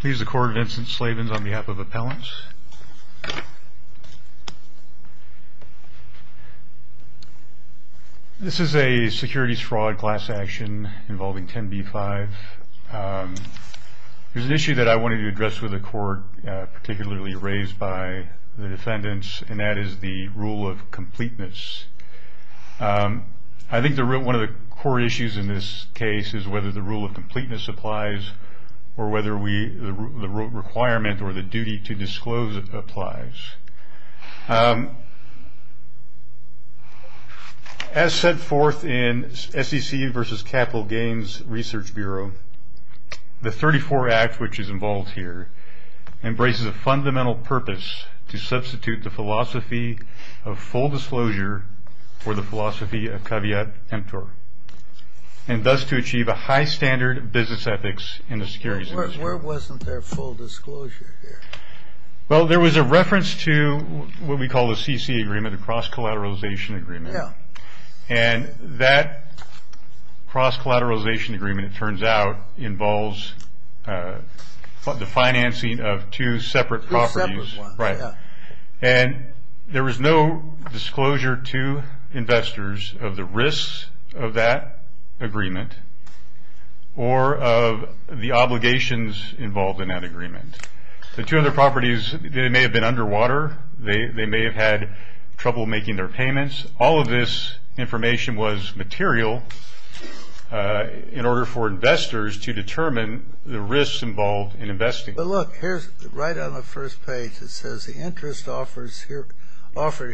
Please the court, Vincent Slavens on behalf of appellants. This is a securities fraud class action involving 10b-5. There's an issue that I wanted to address with the court, particularly raised by the defendants, and that is the rule of completeness. I think one of the core issues in this case is whether the rule of completeness applies or whether the requirement or the duty to disclose applies. As set forth in SEC v. Capital Gains Research Bureau, the 34 Act which is involved here embraces a fundamental purpose to substitute the philosophy of full disclosure for the philosophy of caveat emptor, and thus to achieve a high standard of business ethics in the securities industry. Where wasn't there full disclosure here? Well, there was a reference to what we call a CC agreement, a cross-collateralization agreement. Yeah. And that cross-collateralization agreement, it turns out, involves the financing of two separate properties. Two separate ones, yeah. And there was no disclosure to investors of the risks of that agreement or of the obligations involved in that agreement. The two other properties, they may have been underwater. They may have had trouble making their payments. All of this information was material in order for investors to determine the risks involved in investing. But look, right on the first page it says, the interest offered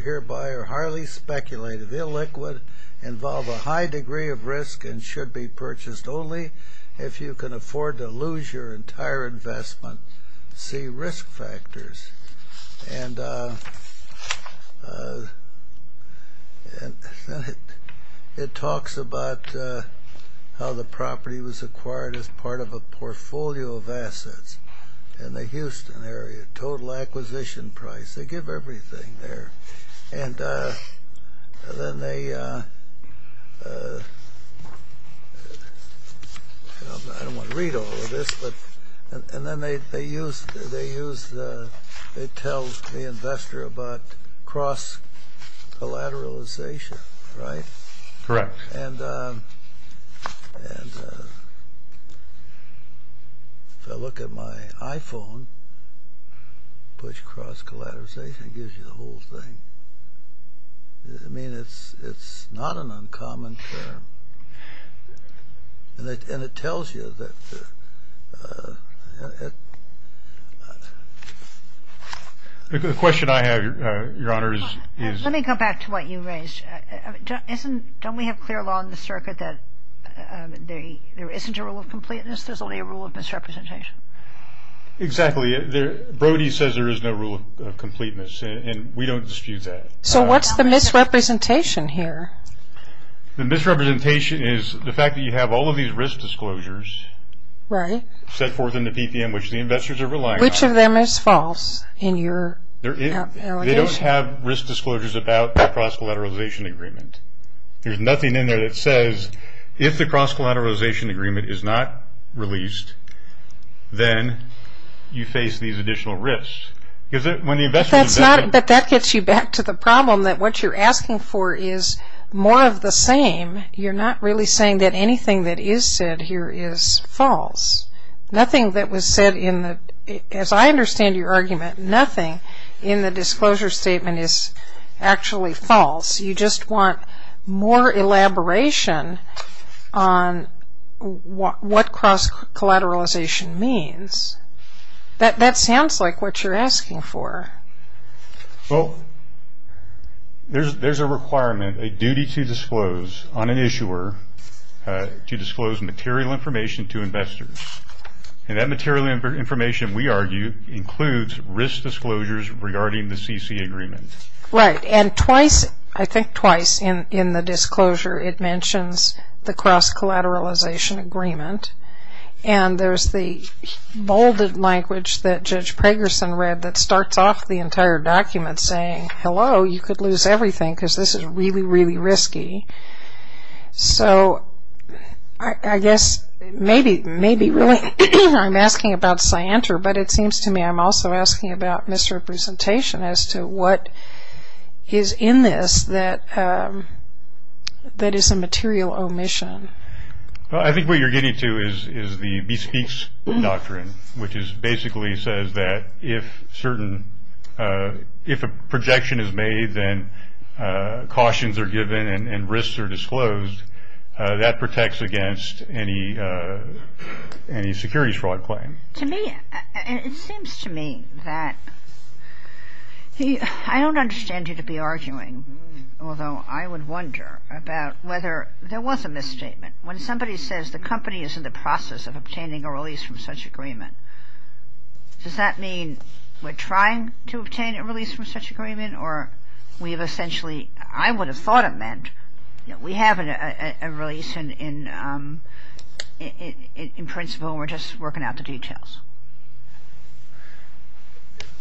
hereby are highly speculative, illiquid, involve a high degree of risk, and should be purchased only if you can afford to lose your entire investment. See risk factors. It talks about how the property was acquired as part of a portfolio of assets in the Houston area, total acquisition price. They give everything there. And then they I don't want to read all of this, but and then they use they tell the investor about cross-collateralization, right? Correct. And if I look at my iPhone, push cross-collateralization gives you the whole thing. I mean, it's not an uncommon term. And it tells you that The question I have, Your Honor, is Let me go back to what you raised. Don't we have clear law in the circuit that there isn't a rule of completeness, there's only a rule of misrepresentation? Exactly. Brody says there is no rule of completeness, and we don't dispute that. So what's the misrepresentation here? The misrepresentation is the fact that you have all of these risk disclosures Right. set forth in the PPM which the investors are relying on. Which of them is false in your allegation? They don't have risk disclosures about the cross-collateralization agreement. There's nothing in there that says if the cross-collateralization agreement is not released, then you face these additional risks. But that gets you back to the problem that what you're asking for is more of the same. You're not really saying that anything that is said here is false. Nothing that was said in the as I understand your argument, nothing in the disclosure statement is actually false. You just want more elaboration on what cross-collateralization means. That sounds like what you're asking for. Well, there's a requirement, a duty to disclose on an issuer to disclose material information to investors. And that material information, we argue, includes risk disclosures regarding the CC agreement. Right. And twice, I think twice in the disclosure, it mentions the cross-collateralization agreement. And there's the bolded language that Judge Pragerson read that starts off the entire document saying, hello, you could lose everything because this is really, really risky. So, I guess, maybe, really, I'm asking about scienter, but it seems to me I'm also asking about misrepresentation as to what is in this that is a material omission. Well, I think what you're getting to is the bespeaks doctrine, which basically says that if a projection is made, then cautions are given and risks are disclosed. That protects against any security fraud claim. To me, it seems to me that, I don't understand you to be arguing, although I would wonder about whether there was a misstatement. When somebody says the company is in the process of obtaining a release from such agreement, does that mean we're trying to obtain a release from such agreement or we have essentially, I would have thought it meant, we have a release in principle and we're just working out the details.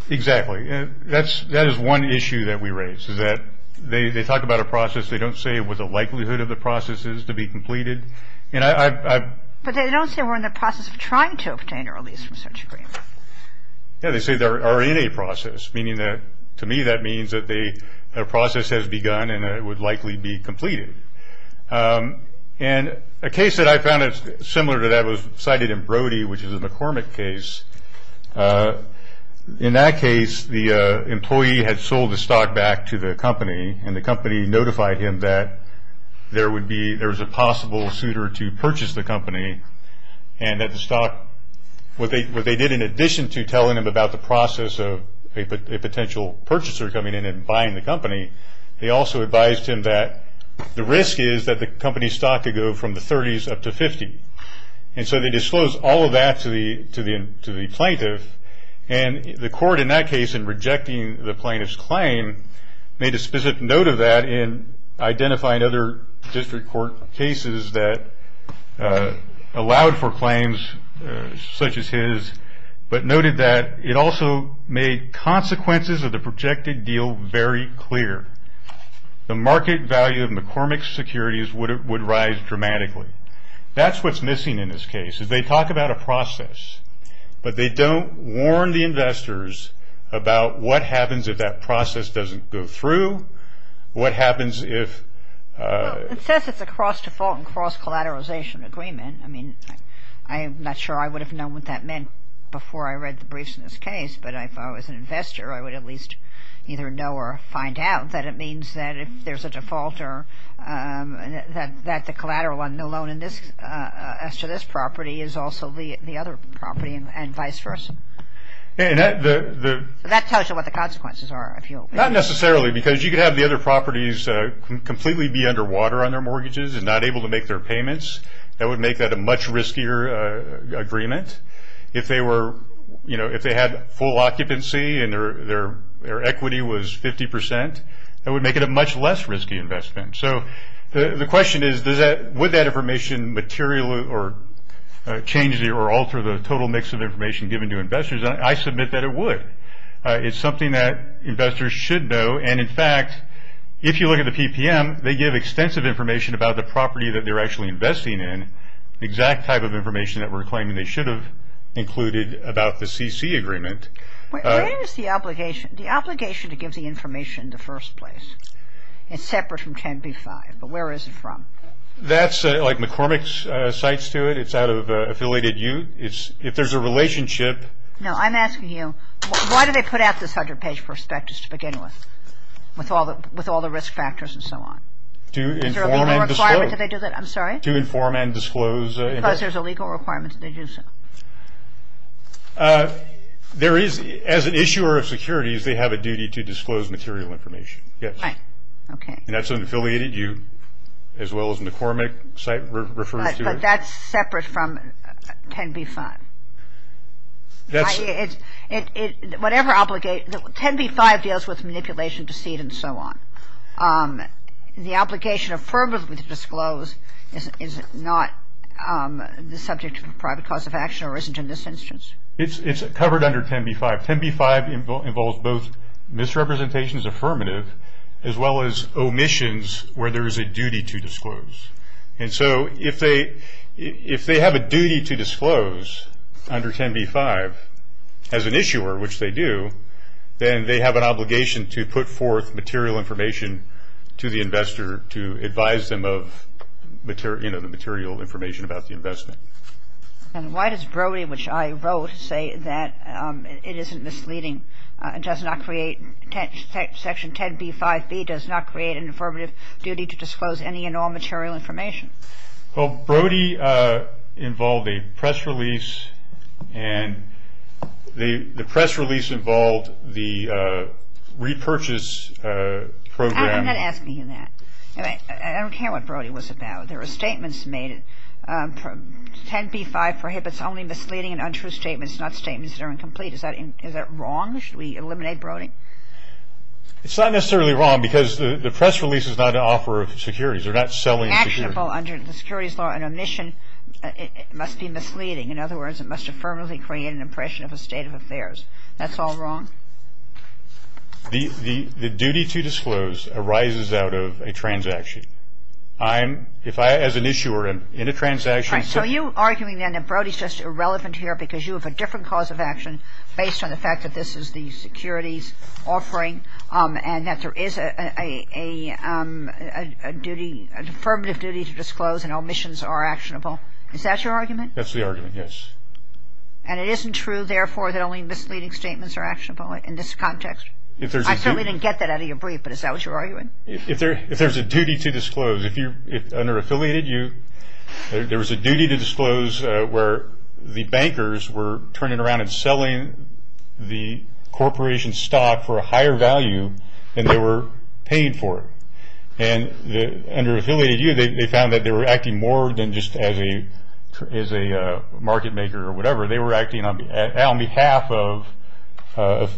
Exactly. That is one issue that we raise is that they talk about a process, they don't say what the likelihood of the process is to be completed. But they don't say we're in the process of trying to obtain a release from such agreement. Yeah, they say they are in a process, meaning that, to me, that means that a process has begun and it would likely be completed. A case that I found similar to that was cited in Brody, which is a McCormick case. In that case, the employee had sold the stock back to the company and the company notified him that there was a possible suitor to purchase the company and that the stock, what they did in addition to telling him about the process of a potential purchaser coming in and buying the company, they also advised him that the risk is that the company's stock could go from the 30s up to 50. And so they disclosed all of that to the plaintiff and the court in that case, in rejecting the plaintiff's claim, made a specific note of that in identifying other district court cases that allowed for claims such as his, but noted that it also made consequences of the projected deal very clear. The market value of McCormick securities would rise dramatically. That's what's missing in this case, is they talk about a process, but they don't warn the investors about what happens if that process doesn't go through, what happens if... Well, it says it's a cross-default and cross-collateralization agreement. I mean, I'm not sure I would have known what that meant before I read the briefs in this case, but if I was an investor, I would at least either know or find out that it means that if there's a default that the collateral on the loan as to this property is also the other property and vice versa. That tells you what the consequences are. Not necessarily, because you could have the other properties completely be underwater on their mortgages and not able to make their payments. That would make that a much riskier agreement. If they had full occupancy and their equity was 50%, that would make it a much less risky investment. So the question is, would that information change or alter the total mix of information given to investors? I submit that it would. It's something that investors should know, and in fact, if you look at the PPM, they give extensive information about the property that they're actually investing in, the exact type of information that we're claiming they should have included about the CC agreement. Where is the obligation to give the information in the first place? It's separate from 10b-5, but where is it from? That's like McCormick's cites to it. It's out of affiliated use. If there's a relationship. No, I'm asking you, why do they put out this 100-page prospectus to begin with, with all the risk factors and so on? To inform and disclose. I'm sorry? To inform and disclose. Because there's a legal requirement that they do so. There is, as an issuer of securities, they have a duty to disclose material information. Yes. Right. Okay. And that's an affiliated use, as well as McCormick's cite refers to it. But that's separate from 10b-5. That's. Whatever obligation. 10b-5 deals with manipulation, deceit, and so on. The obligation affirmatively to disclose is not the subject of a private cause of action, or isn't in this instance? It's covered under 10b-5. 10b-5 involves both misrepresentations affirmative, as well as omissions where there is a duty to disclose. And so if they have a duty to disclose under 10b-5, as an issuer, which they do, then they have an obligation to put forth material information to the investor to advise them of the material information about the investment. And why does Brody, which I wrote, say that it isn't misleading, does not create section 10b-5b, does not create an affirmative duty to disclose any and all material information? Well, Brody involved a press release. And the press release involved the repurchase program. I'm not asking you that. I don't care what Brody was about. There were statements made. 10b-5 prohibits only misleading and untrue statements, not statements that are incomplete. Is that wrong? Should we eliminate Brody? It's not necessarily wrong because the press release is not an offer of securities. They're not selling securities. Under the securities law, an omission must be misleading. In other words, it must affirmatively create an impression of a state of affairs. That's all wrong? The duty to disclose arises out of a transaction. I'm, as an issuer, in a transaction. So are you arguing then that Brody is just irrelevant here because you have a different cause of action based on the fact that this is the securities offering and that there is a duty, an affirmative duty to disclose and omissions are actionable? Is that your argument? That's the argument, yes. And it isn't true, therefore, that only misleading statements are actionable in this context? I certainly didn't get that out of your brief, but is that what you're arguing? If there's a duty to disclose, if you're under affiliated, there was a duty to disclose where the bankers were turning around and selling the corporation's stock for a higher value than they were paying for it. And under affiliated youth, they found that they were acting more than just as a market maker or whatever. They were acting on behalf of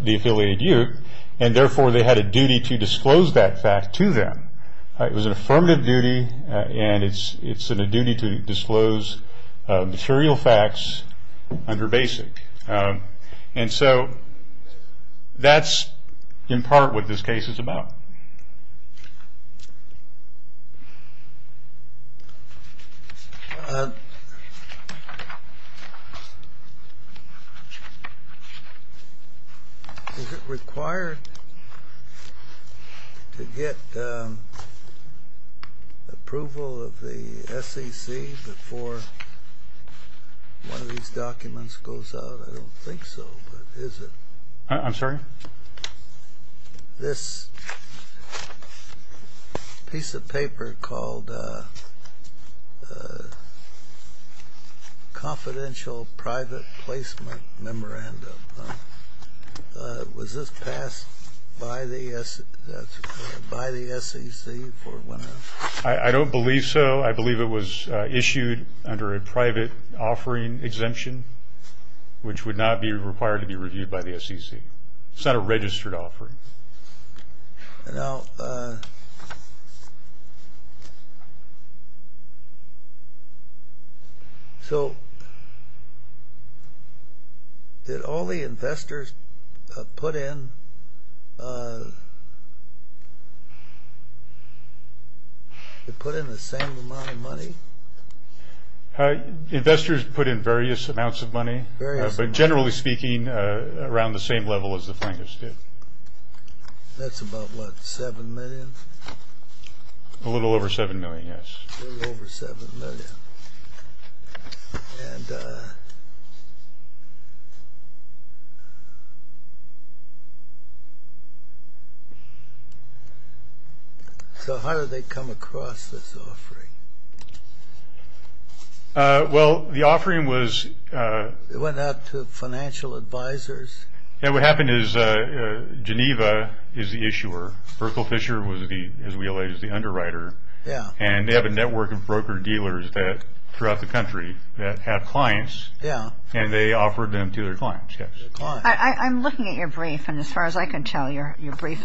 the affiliated youth, and therefore they had a duty to disclose that fact to them. It was an affirmative duty, and it's a duty to disclose material facts under basic. And so that's in part what this case is about. Is it required to get approval of the SEC before one of these documents goes out? I don't think so, but is it? I'm sorry? This piece of paper called Confidential Private Placement Memorandum, was this passed by the SEC before it went out? I don't believe so. I believe it was issued under a private offering exemption, which would not be required to be reviewed by the SEC. It's not a registered offering. Now, so did all the investors put in the same amount of money? Investors put in various amounts of money, but generally speaking, around the same level as the plaintiffs did. That's about what, $7 million? A little over $7 million, yes. A little over $7 million. Well, the offering was... It went out to financial advisors? Yeah, what happened is Geneva is the issuer. Berkel Fisher was, as we allege, the underwriter. And they have a network of broker-dealers throughout the country that have clients, and they offered them to their clients, yes. I'm looking at your brief, and as far as I can tell, your brief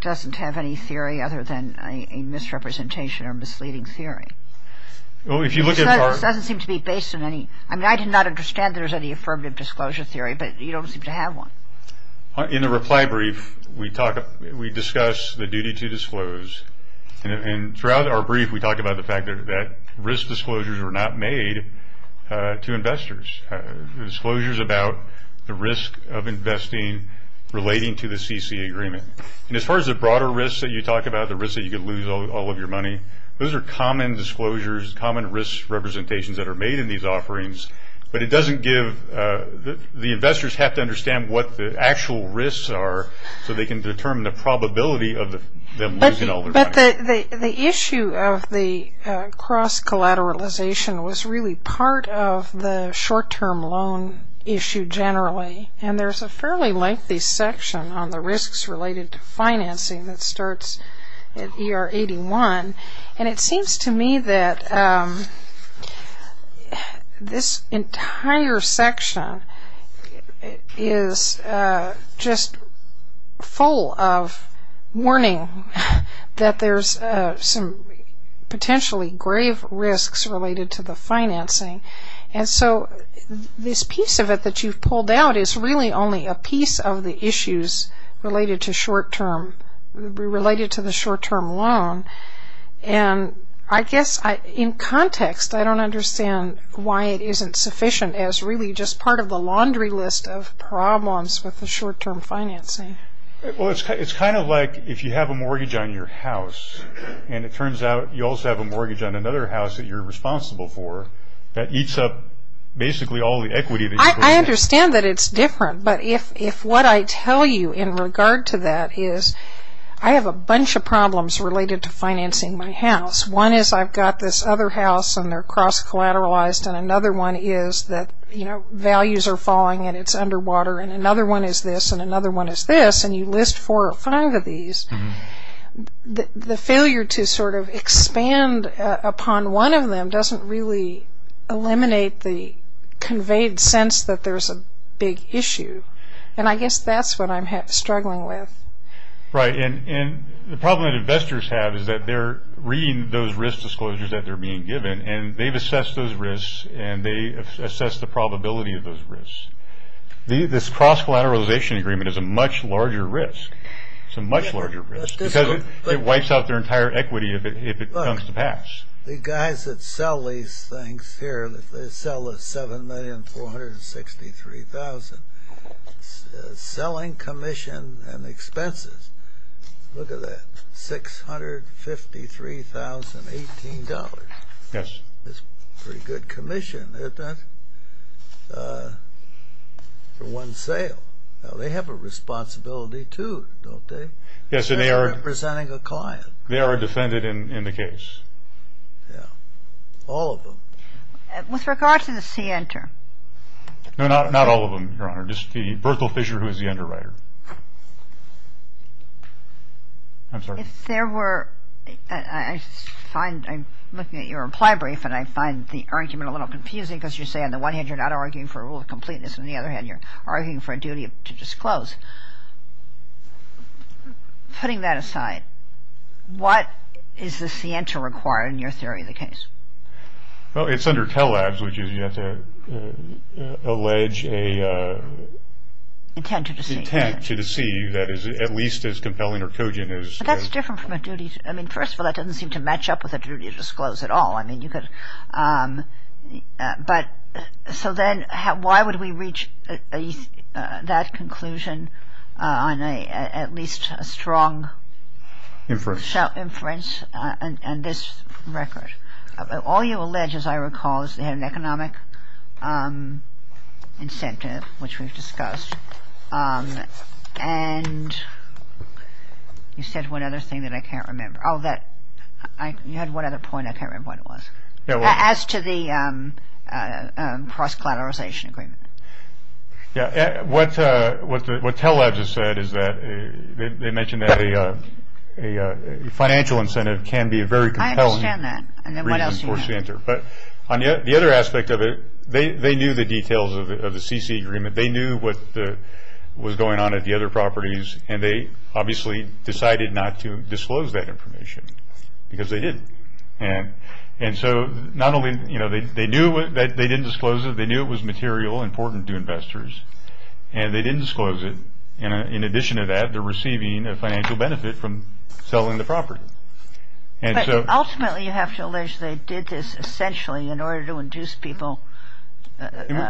doesn't have any theory other than a misrepresentation or misleading theory. This doesn't seem to be based on any... I mean, I do not understand that there's any affirmative disclosure theory, but you don't seem to have one. In the reply brief, we discuss the duty to disclose. And throughout our brief, we talk about the fact that risk disclosures were not made to investors. Disclosures about the risk of investing relating to the CC agreement. And as far as the broader risks that you talk about, the risks that you could lose all of your money, those are common disclosures, common risk representations that are made in these offerings. But it doesn't give... The investors have to understand what the actual risks are so they can determine the probability of them losing all their money. The issue of the cross-collateralization was really part of the short-term loan issue generally. And there's a fairly lengthy section on the risks related to financing that starts at ER 81. And it seems to me that this entire section is just full of warning that there's some potentially grave risks related to the financing. And so this piece of it that you've pulled out is really only a piece of the issues related to the short-term loan. And I guess in context, I don't understand why it isn't sufficient as really just part of the laundry list of problems with the short-term financing. Well, it's kind of like if you have a mortgage on your house and it turns out you also have a mortgage on another house that you're responsible for that eats up basically all the equity that you put in. I understand that it's different. But if what I tell you in regard to that is I have a bunch of problems related to financing my house. One is I've got this other house and they're cross-collateralized. And another one is that values are falling and it's underwater. And another one is this and another one is this. And you list four or five of these. The failure to sort of expand upon one of them doesn't really eliminate the conveyed sense that there's a big issue. And I guess that's what I'm struggling with. Right, and the problem that investors have is that they're reading those risk disclosures that they're being given and they've assessed those risks and they assess the probability of those risks. This cross-collateralization agreement is a much larger risk. It's a much larger risk because it wipes out their entire equity if it comes to pass. Look, the guys that sell these things here, they sell $7,463,000, selling commission and expenses. Look at that, $653,018. Yes. That's pretty good commission, isn't it? For one sale. Now, they have a responsibility too, don't they? Yes, and they are... They're representing a client. They are defended in the case. Yeah, all of them. With regard to the Center... No, not all of them, Your Honor. Just the Berthel Fisher, who is the underwriter. I'm sorry? If there were... I find, I'm looking at your reply brief and I find the argument a little confusing because you say, on the one hand, you're not arguing for a rule of completeness. On the other hand, you're arguing for a duty to disclose. Putting that aside, what is the Center required in your theory of the case? Well, it's under TELADS, which is you have to allege a... Intent to deceive. Intent to deceive that is at least as compelling or cogent as... But that's different from a duty... I mean, first of all, that doesn't seem to match up with a duty to disclose at all. I mean, you could... But... So then, why would we reach that conclusion on at least a strong... Inference. Inference on this record? All you allege, as I recall, is they had an economic incentive, which we've discussed. And... You said one other thing that I can't remember. Oh, that... You had one other point. I can't remember what it was. Yeah, well... As to the cross-collateralization agreement. Yeah. What TELADS has said is that... They mentioned that a financial incentive can be a very compelling... I understand that. And then what else do you know? ...reason for Center. But on the other aspect of it, they knew the details of the CC agreement. They knew what was going on at the other properties, and they obviously decided not to disclose that information. Because they didn't. And so, not only... You know, they knew that they didn't disclose it. They knew it was material, important to investors. And they didn't disclose it. And in addition to that, they're receiving a financial benefit from selling the property. But ultimately, you have to allege they did this essentially in order to induce people...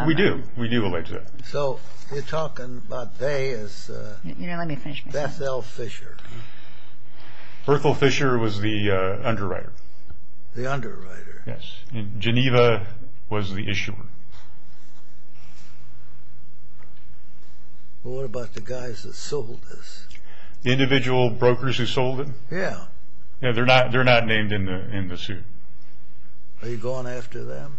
We do. We do allege that. So, you're talking about they as... You know, let me finish my... Bethel Fisher. Berkel Fisher was the underwriter. The underwriter. Yes. And Geneva was the issuer. What about the guys that sold this? The individual brokers who sold it? Yeah. Yeah, they're not named in the suit. Are you going after them?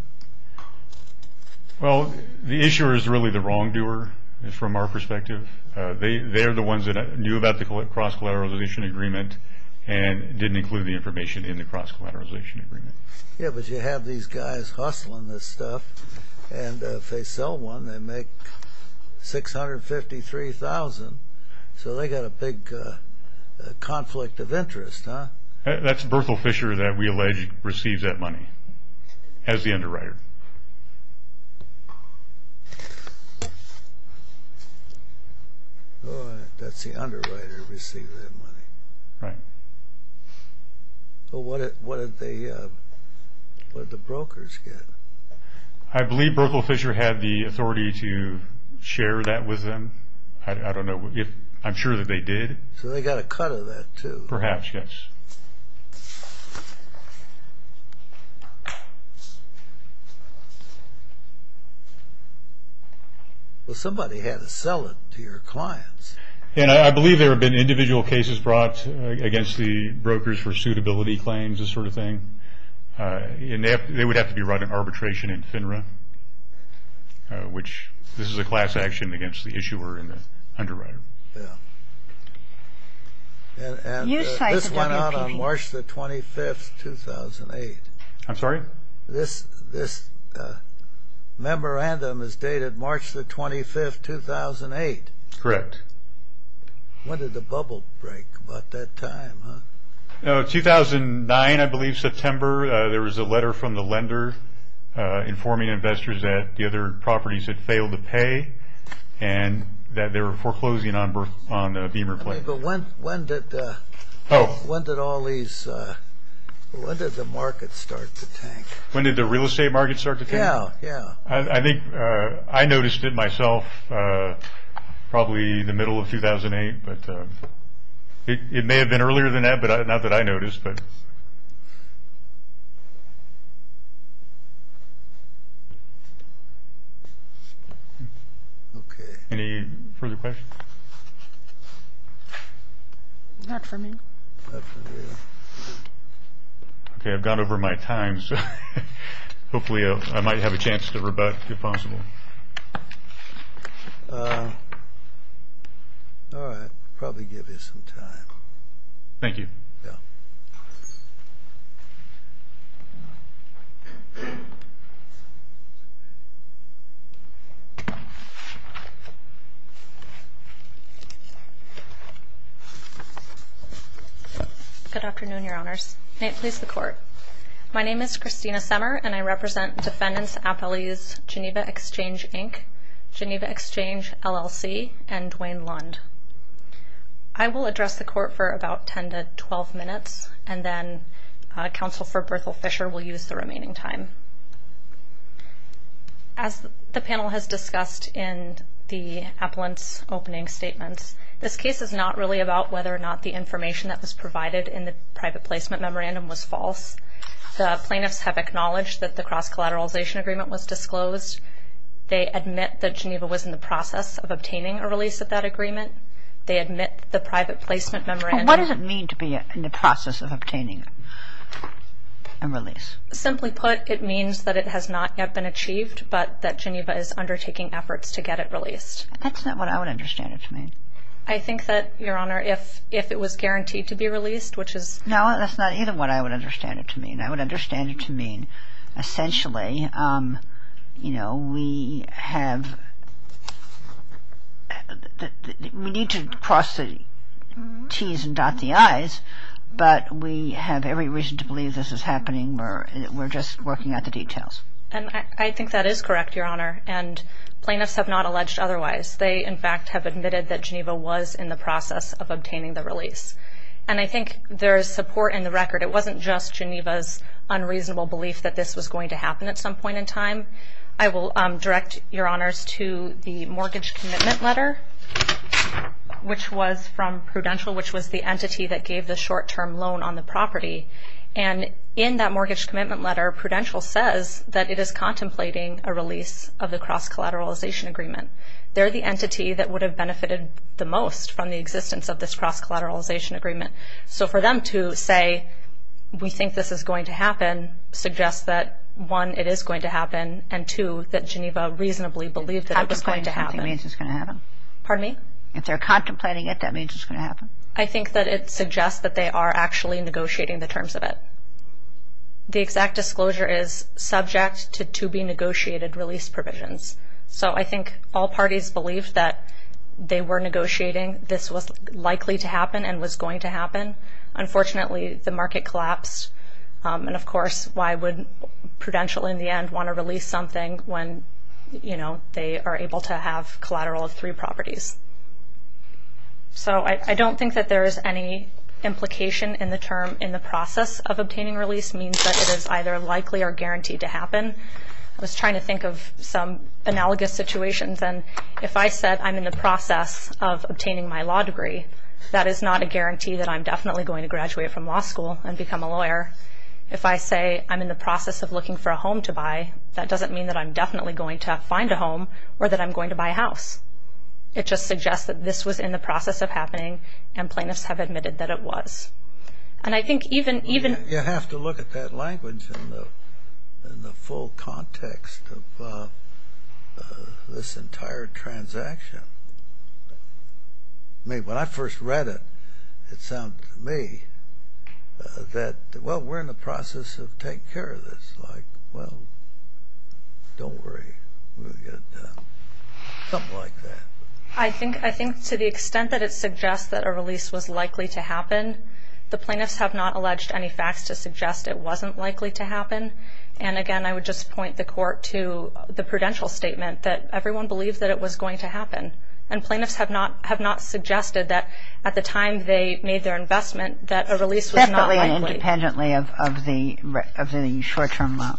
Well, the issuer is really the wrongdoer from our perspective. They're the ones that knew about the cross-collateralization agreement and didn't include the information in the cross-collateralization agreement. Yeah, but you have these guys hustling this stuff. And if they sell one, they make $653,000. So, they got a big conflict of interest, huh? That's Berkel Fisher that we allege receives that money as the underwriter. That's the underwriter that receives that money. Right. Well, what did the brokers get? I believe Berkel Fisher had the authority to share that with them. I don't know if... I'm sure that they did. So, they got a cut of that too? Perhaps, yes. Well, somebody had to sell it to your clients. And I believe there have been individual cases brought against the brokers for suitability claims, this sort of thing. And they would have to be brought in arbitration in FINRA, which this is a class action against the issuer and the underwriter. And this went on for a while. This came out on March the 25th, 2008. I'm sorry? This memorandum is dated March the 25th, 2008. Correct. When did the bubble break about that time, huh? 2009, I believe, September. There was a letter from the lender informing investors that the other properties had failed to pay and that they were foreclosing on the Beamer plate. But when did all these... when did the market start to tank? When did the real estate market start to tank? Yeah, yeah. I think I noticed it myself probably in the middle of 2008. It may have been earlier than that, but not that I noticed. Okay. Any further questions? Not for me. Okay. I've gone over my time, so hopefully I might have a chance to rebut if possible. All right. I'll probably give you some time. Thank you. Good afternoon, Your Honors. May it please the Court. My name is Christina Semmer, and I represent defendants appellees Geneva Exchange, Inc., Geneva Exchange, LLC, and Duane Lund. I will address the Court for about 10 to 12 minutes, and then Counsel for Berthel Fisher will use the remaining time. As the panel has discussed in the appellant's opening statements, this case is not really about whether or not the information that was provided in the private placement memorandum was false. The plaintiffs have acknowledged that the cross-collateralization agreement was disclosed. They admit that Geneva was in the process of obtaining a release of that agreement. They admit the private placement memorandum... What does it mean to be in the process of obtaining a release? Simply put, it means that it has not yet been achieved, but that Geneva is undertaking efforts to get it released. That's not what I would understand it to mean. I think that, Your Honor, if it was guaranteed to be released, which is... No, that's not even what I would understand it to mean. I would understand it to mean essentially, you know, we have... We need to cross the T's and dot the I's, but we have every reason to believe this is happening. We're just working out the details. And I think that is correct, Your Honor. And plaintiffs have not alleged otherwise. They, in fact, have admitted that Geneva was in the process of obtaining the release. And I think there is support in the record. It wasn't just Geneva's unreasonable belief that this was going to happen at some point in time. I will direct Your Honors to the mortgage commitment letter, which was from Prudential, which was the entity that gave the short-term loan on the property. And in that mortgage commitment letter, Prudential says that it is contemplating a release of the cross-collateralization agreement. They're the entity that would have benefited the most from the existence of this cross-collateralization agreement. So for them to say, we think this is going to happen, suggests that, one, it is going to happen, and, two, that Geneva reasonably believed that it was going to happen. If they're contemplating something, it means it's going to happen. Pardon me? If they're contemplating it, that means it's going to happen. I think that it suggests that they are actually negotiating the terms of it. The exact disclosure is subject to to-be-negotiated release provisions. So I think all parties believed that they were negotiating this was likely to happen and was going to happen. Unfortunately, the market collapsed. And, of course, why would Prudential in the end want to release something when, you know, they are able to have collateral of three properties? So I don't think that there is any implication in the term in the process of obtaining release. It means that it is either likely or guaranteed to happen. I was trying to think of some analogous situations. And if I said I'm in the process of obtaining my law degree, that is not a guarantee that I'm definitely going to graduate from law school and become a lawyer. If I say I'm in the process of looking for a home to buy, that doesn't mean that I'm definitely going to find a home or that I'm going to buy a house. It just suggests that this was in the process of happening and plaintiffs have admitted that it was. And I think even... You have to look at that language in the full context of this entire transaction. I mean, when I first read it, it sounded to me that, well, we're in the process of taking care of this. It's like, well, don't worry. We'll get it done. Something like that. I think to the extent that it suggests that a release was likely to happen, the plaintiffs have not alleged any facts to suggest it wasn't likely to happen. And, again, I would just point the Court to the prudential statement that everyone believed that it was going to happen. And plaintiffs have not suggested that at the time they made their investment that a release was not likely. Separately and independently of the short-term loan.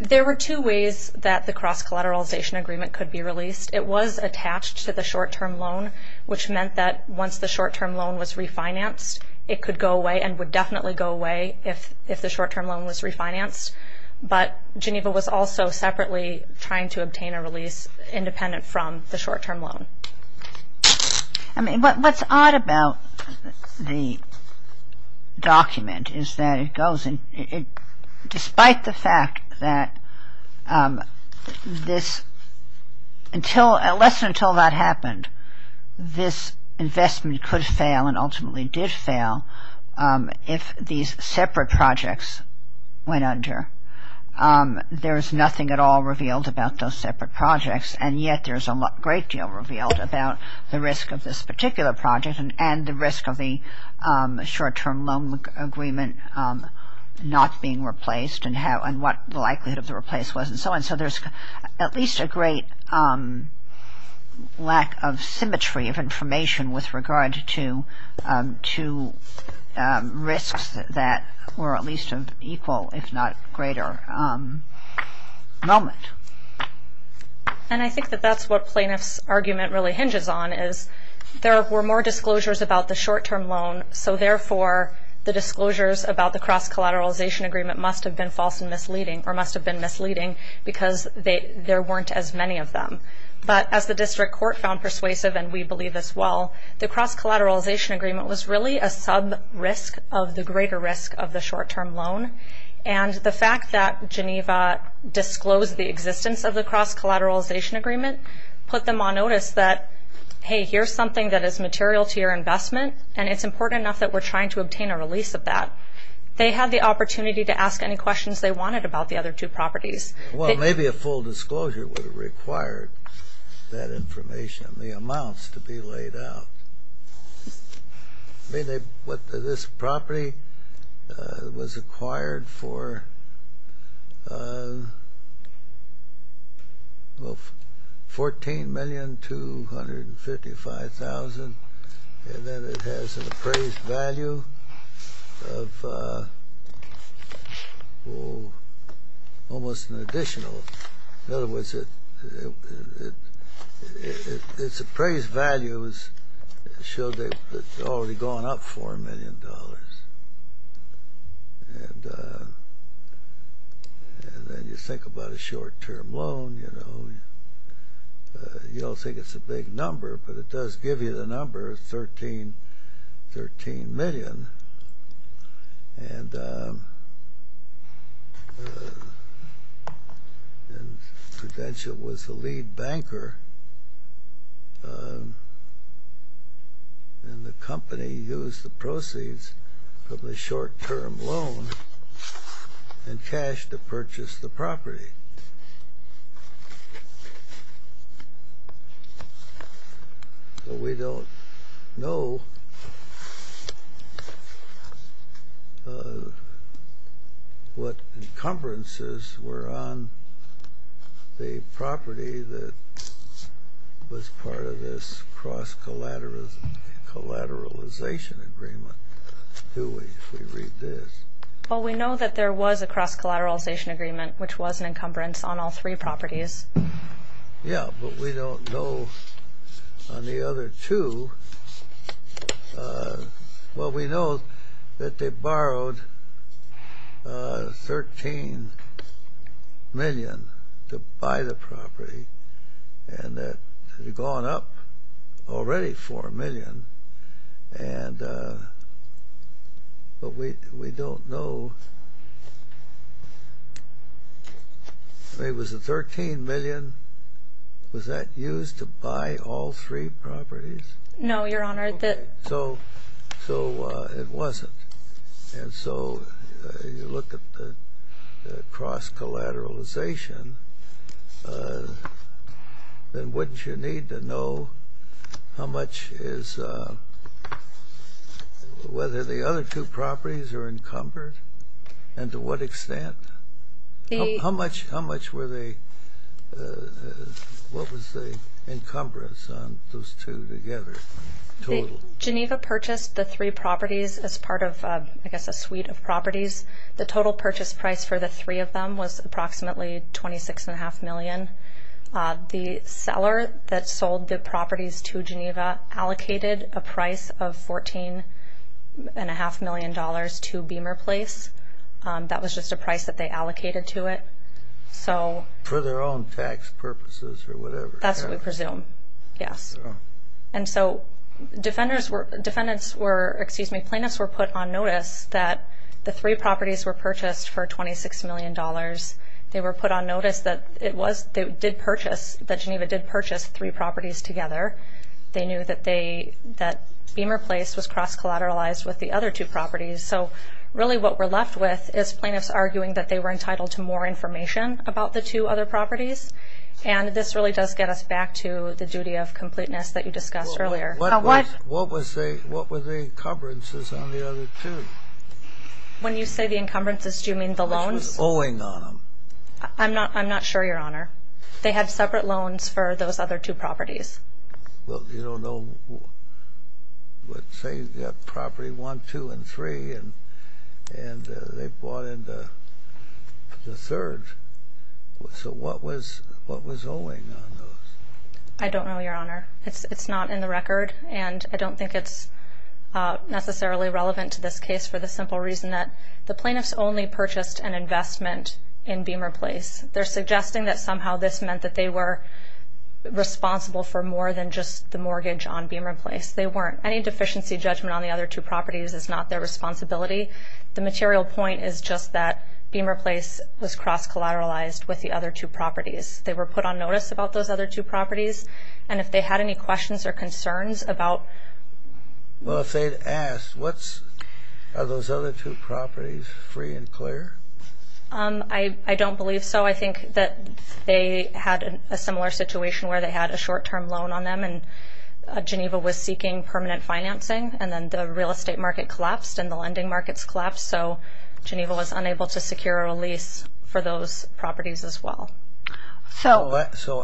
There were two ways that the cross-collateralization agreement could be released. It was attached to the short-term loan, which meant that once the short-term loan was refinanced, it could go away and would definitely go away if the short-term loan was refinanced. But Geneva was also separately trying to obtain a release independent from the short-term loan. I mean, what's odd about the document is that it goes, despite the fact that less than until that happened, this investment could fail and ultimately did fail if these separate projects went under. There's nothing at all revealed about those separate projects. And yet there's a great deal revealed about the risk of this particular project and the risk of the short-term loan agreement not being replaced and what the likelihood of the replace was and so on. So there's at least a great lack of symmetry of information with regard to risks that were at least of equal if not greater moment. And I think that that's what plaintiff's argument really hinges on is there were more disclosures about the short-term loan, so therefore the disclosures about the cross-collateralization agreement must have been false and misleading or must have been misleading because there weren't as many of them. But as the district court found persuasive and we believe as well, the cross-collateralization agreement was really a sub-risk of the greater risk of the short-term loan. And the fact that Geneva disclosed the existence of the cross-collateralization agreement put them on notice that, hey, here's something that is material to your investment and it's important enough that we're trying to obtain a release of that. They had the opportunity to ask any questions they wanted about the other two properties. Well, maybe a full disclosure would have required that information, the amounts to be laid out. This property was acquired for $14,255,000 and then it has an appraised value of almost an additional. In other words, its appraised value showed that it had already gone up $4 million. And then you think about a short-term loan, you know, you don't think it's a big number, but it does give you the number of $13 million. And Prudential was the lead banker and the company used the proceeds from the short-term loan and cash to purchase the property. But we don't know what encumbrances were on the property that was part of this cross-collateralization agreement, do we, if we read this? Well, we know that there was a cross-collateralization agreement, which was an encumbrance on all three properties. Yeah, but we don't know on the other two. Well, we know that they borrowed $13 million to buy the property and that it had gone up already $4 million, but we don't know if it was the $13 million. Was that used to buy all three properties? No, Your Honor. So it wasn't. And so you look at the cross-collateralization, then wouldn't you need to know how much is, whether the other two properties are encumbered and to what extent? How much were they, what was the encumbrance on those two together, total? Geneva purchased the three properties as part of, I guess, a suite of properties. The total purchase price for the three of them was approximately $26.5 million. The seller that sold the properties to Geneva allocated a price of $14.5 million to Beamer Place. That was just a price that they allocated to it. For their own tax purposes or whatever? That's what we presume, yes. And so defendants were, excuse me, plaintiffs were put on notice that the three properties were purchased for $26 million. They were put on notice that Geneva did purchase three properties together. They knew that Beamer Place was cross-collateralized with the other two properties. So really what we're left with is plaintiffs arguing that they were entitled to more information about the two other properties, and this really does get us back to the duty of completeness that you discussed earlier. What were the encumbrances on the other two? When you say the encumbrances, do you mean the loans? Which was owing on them. I'm not sure, Your Honor. They had separate loans for those other two properties. Well, you don't know, let's say you've got property one, two, and three, and they bought into the third. So what was owing on those? I don't know, Your Honor. It's not in the record, and I don't think it's necessarily relevant to this case for the simple reason that the plaintiffs only purchased an investment in Beamer Place. They're suggesting that somehow this meant that they were responsible for more than just the mortgage on Beamer Place. They weren't. Any deficiency judgment on the other two properties is not their responsibility. The material point is just that Beamer Place was cross-collateralized with the other two properties. They were put on notice about those other two properties, and if they had any questions or concerns about... Well, if they'd asked, are those other two properties free and clear? I don't believe so. I think that they had a similar situation where they had a short-term loan on them, and Geneva was seeking permanent financing, and then the real estate market collapsed and the lending markets collapsed, so Geneva was unable to secure a lease for those properties as well. So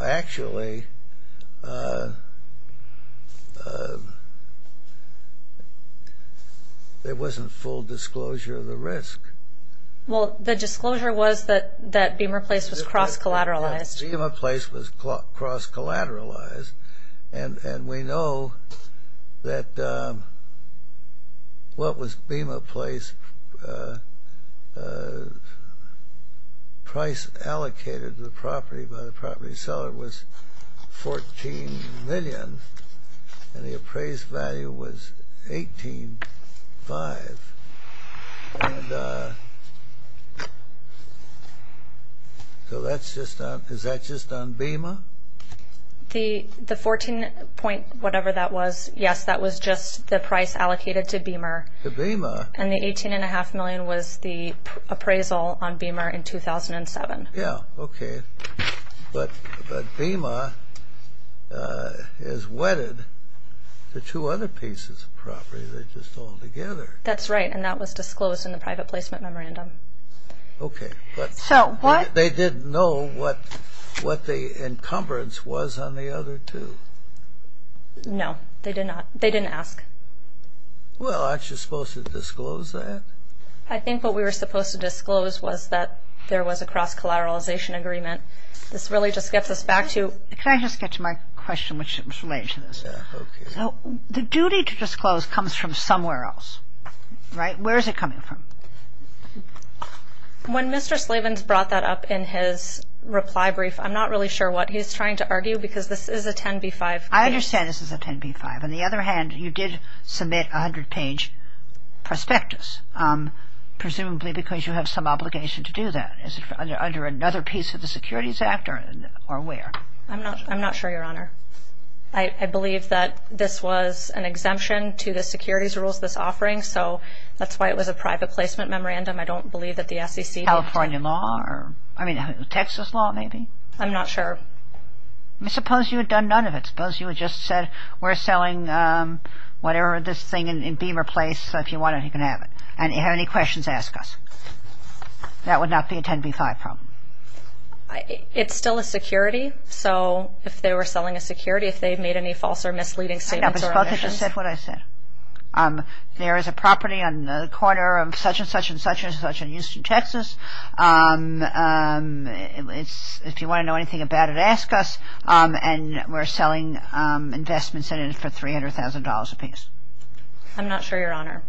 actually, there wasn't full disclosure of the risk. Well, the disclosure was that Beamer Place was cross-collateralized. Beamer Place was cross-collateralized, and we know that what was Beamer Place price allocated to the property by the property seller was $14 million, and the appraised value was $18.5. So is that just on Beamer? The 14-point whatever that was, yes, that was just the price allocated to Beamer. To Beamer? And the $18.5 million was the appraisal on Beamer in 2007. Yeah, okay. But Beamer is wedded to two other pieces of property. They're just all together. That's right, and that was disclosed in the private placement memorandum. Okay. They didn't know what the encumbrance was on the other two? No, they didn't ask. Well, aren't you supposed to disclose that? I think what we were supposed to disclose was that there was a cross-collateralization agreement. This really just gets us back to – Can I just get to my question, which is related to this? Yeah, okay. The duty to disclose comes from somewhere else, right? Where is it coming from? When Mr. Slavens brought that up in his reply brief, I'm not really sure what he's trying to argue because this is a 10b-5 case. I understand this is a 10b-5. On the other hand, you did submit a 100-page prospectus, presumably because you have some obligation to do that. Is it under another piece of the Securities Act or where? I'm not sure, Your Honor. I believe that this was an exemption to the securities rules, this offering, so that's why it was a private placement memorandum. I don't believe that the SEC – California law? I mean, Texas law maybe? I'm not sure. I suppose you had done none of it. I suppose you had just said, we're selling whatever this thing in Beamer Place, so if you want it, you can have it. And if you have any questions, ask us. That would not be a 10b-5 problem. It's still a security, so if they were selling a security, if they made any false or misleading statements or omissions – I know, but suppose they just said what I said. There is a property on the corner of such-and-such-and-such-and-such in Houston, Texas. If you want to know anything about it, ask us, and we're selling investments in it for $300,000 apiece. I'm not sure, Your Honor.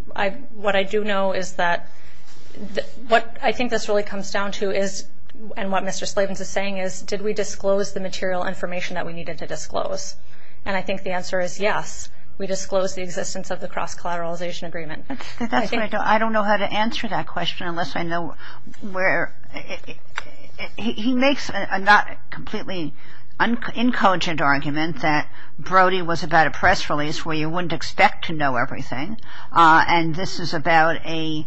What I do know is that – what I think this really comes down to is – and what Mr. Slavens is saying is, did we disclose the material information that we needed to disclose? And I think the answer is yes. We disclosed the existence of the cross-collateralization agreement. That's right. I don't know how to answer that question unless I know where – he makes a not completely incogent argument that Brody was about a press release where you wouldn't expect to know everything, and this is about a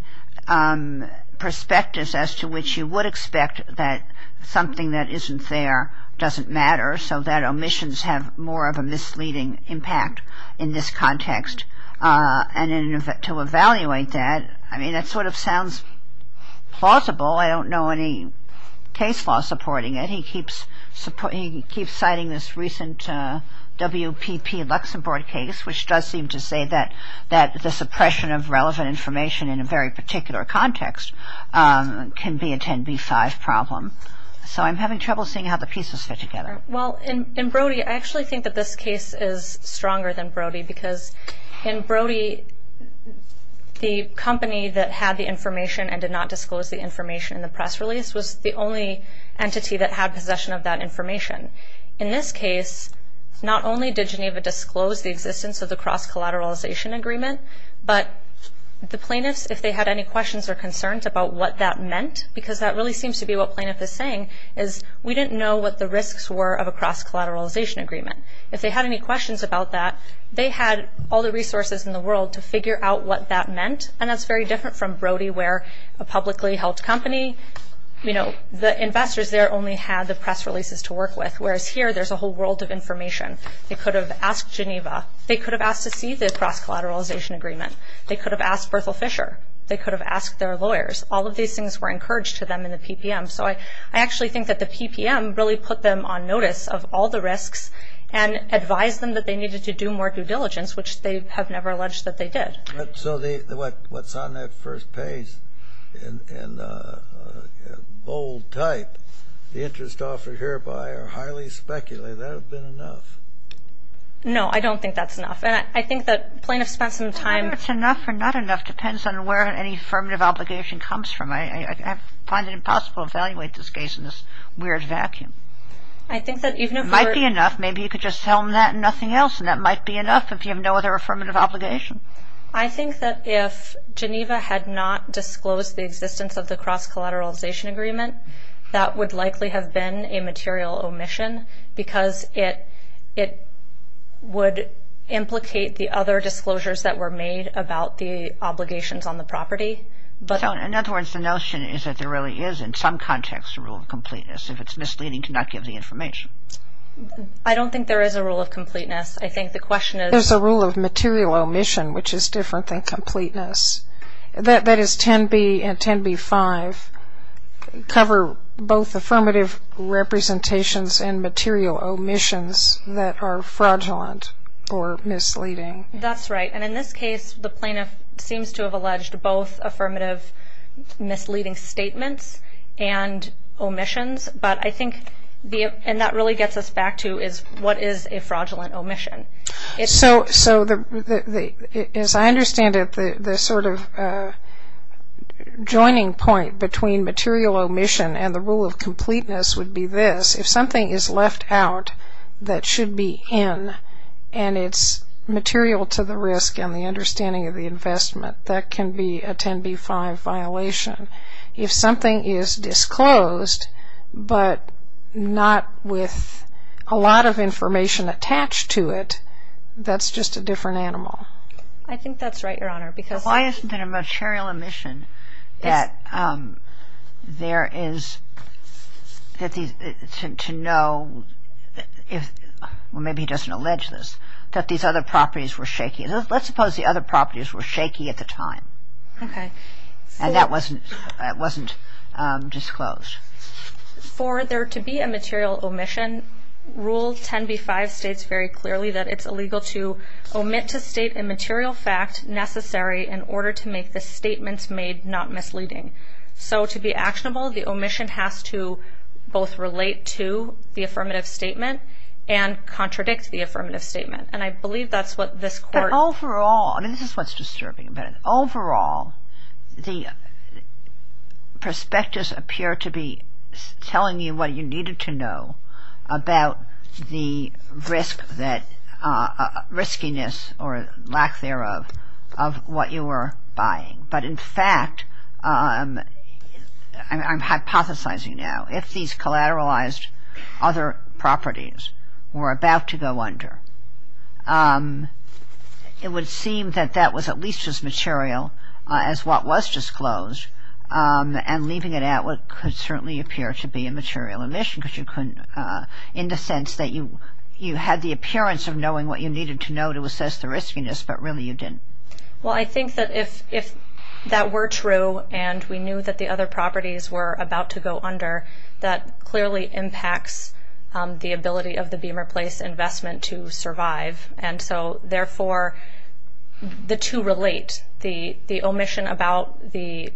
perspective as to which you would expect that something that isn't there doesn't matter, so that omissions have more of a misleading impact. In this context, and to evaluate that – I mean, that sort of sounds plausible. I don't know any case law supporting it. He keeps citing this recent WPP Luxembourg case, which does seem to say that the suppression of relevant information in a very particular context can be a 10b-5 problem. So I'm having trouble seeing how the pieces fit together. Well, in Brody, I actually think that this case is stronger than Brody because in Brody, the company that had the information and did not disclose the information in the press release was the only entity that had possession of that information. In this case, not only did Geneva disclose the existence of the cross-collateralization agreement, but the plaintiffs, if they had any questions or concerns about what that meant, because that really seems to be what plaintiff is saying, is we didn't know what the risks were of a cross-collateralization agreement. If they had any questions about that, they had all the resources in the world to figure out what that meant, and that's very different from Brody, where a publicly held company, the investors there only had the press releases to work with, whereas here, there's a whole world of information. They could have asked Geneva. They could have asked to see the cross-collateralization agreement. They could have asked Berthel Fisher. They could have asked their lawyers. All of these things were encouraged to them in the PPM. So I actually think that the PPM really put them on notice of all the risks and advised them that they needed to do more due diligence, which they have never alleged that they did. So what's on that first page, in bold type, the interest offered hereby are highly speculative. That would have been enough. No, I don't think that's enough. And I think that plaintiffs spent some time. Whether it's enough or not enough depends on where any affirmative obligation comes from. I find it impossible to evaluate this case in this weird vacuum. It might be enough. Maybe you could just tell them that and nothing else, and that might be enough if you have no other affirmative obligation. I think that if Geneva had not disclosed the existence of the cross-collateralization agreement, that would likely have been a material omission because it would implicate the other disclosures that were made about the obligations on the property. In other words, the notion is that there really is in some context a rule of completeness. If it's misleading, do not give the information. I don't think there is a rule of completeness. I think the question is. There's a rule of material omission, which is different than completeness. That is 10b and 10b-5 cover both affirmative representations and material omissions that are fraudulent or misleading. That's right. In this case, the plaintiff seems to have alleged both affirmative misleading statements and omissions, and that really gets us back to what is a fraudulent omission. As I understand it, the sort of joining point between material omission and the rule of completeness would be this. If something is left out that should be in, and it's material to the risk and the understanding of the investment, that can be a 10b-5 violation. If something is disclosed but not with a lot of information attached to it, that's just a different animal. I think that's right, Your Honor. Why isn't there a material omission that there is to know? Maybe he doesn't allege this, that these other properties were shaky. Let's suppose the other properties were shaky at the time, and that wasn't disclosed. For there to be a material omission, Rule 10b-5 states very clearly that it's illegal to omit to state a material fact necessary in order to make the statements made not misleading. So to be actionable, the omission has to both relate to the affirmative statement and contradict the affirmative statement. And I believe that's what this court- But overall, and this is what's disturbing about it, overall the prospectus appear to be telling you what you needed to know about the riskiness or lack thereof of what you were buying. But in fact, I'm hypothesizing now, if these collateralized other properties were about to go under, it would seem that that was at least as material as what was disclosed, and leaving it out what could certainly appear to be a material omission in the sense that you had the appearance of knowing what you needed to know to assess the riskiness, but really you didn't. Well, I think that if that were true, and we knew that the other properties were about to go under, that clearly impacts the ability of the Beamer Place investment to survive. And so, therefore, the two relate. The omission about the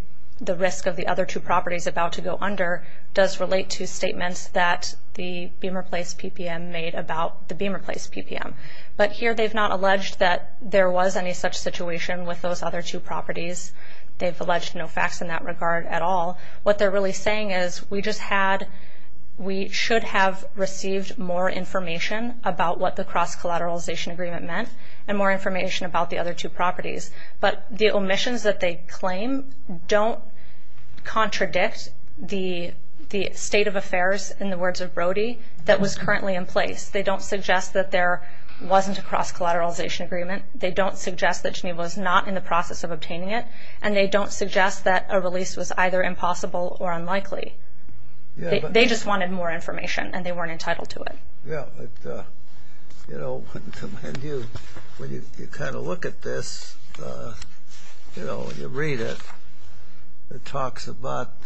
risk of the other two properties about to go under does relate to statements that the Beamer Place PPM made about the Beamer Place PPM. But here they've not alleged that there was any such situation with those other two properties. They've alleged no facts in that regard at all. What they're really saying is, we should have received more information about what the cross-collateralization agreement meant, and more information about the other two properties. But the omissions that they claim don't contradict the state of affairs, in the words of Brody, that was currently in place. They don't suggest that there wasn't a cross-collateralization agreement. They don't suggest that Geneva was not in the process of obtaining it. And they don't suggest that a release was either impossible or unlikely. They just wanted more information, and they weren't entitled to it. Yeah. You know, when you kind of look at this, you know, when you read it, it talks about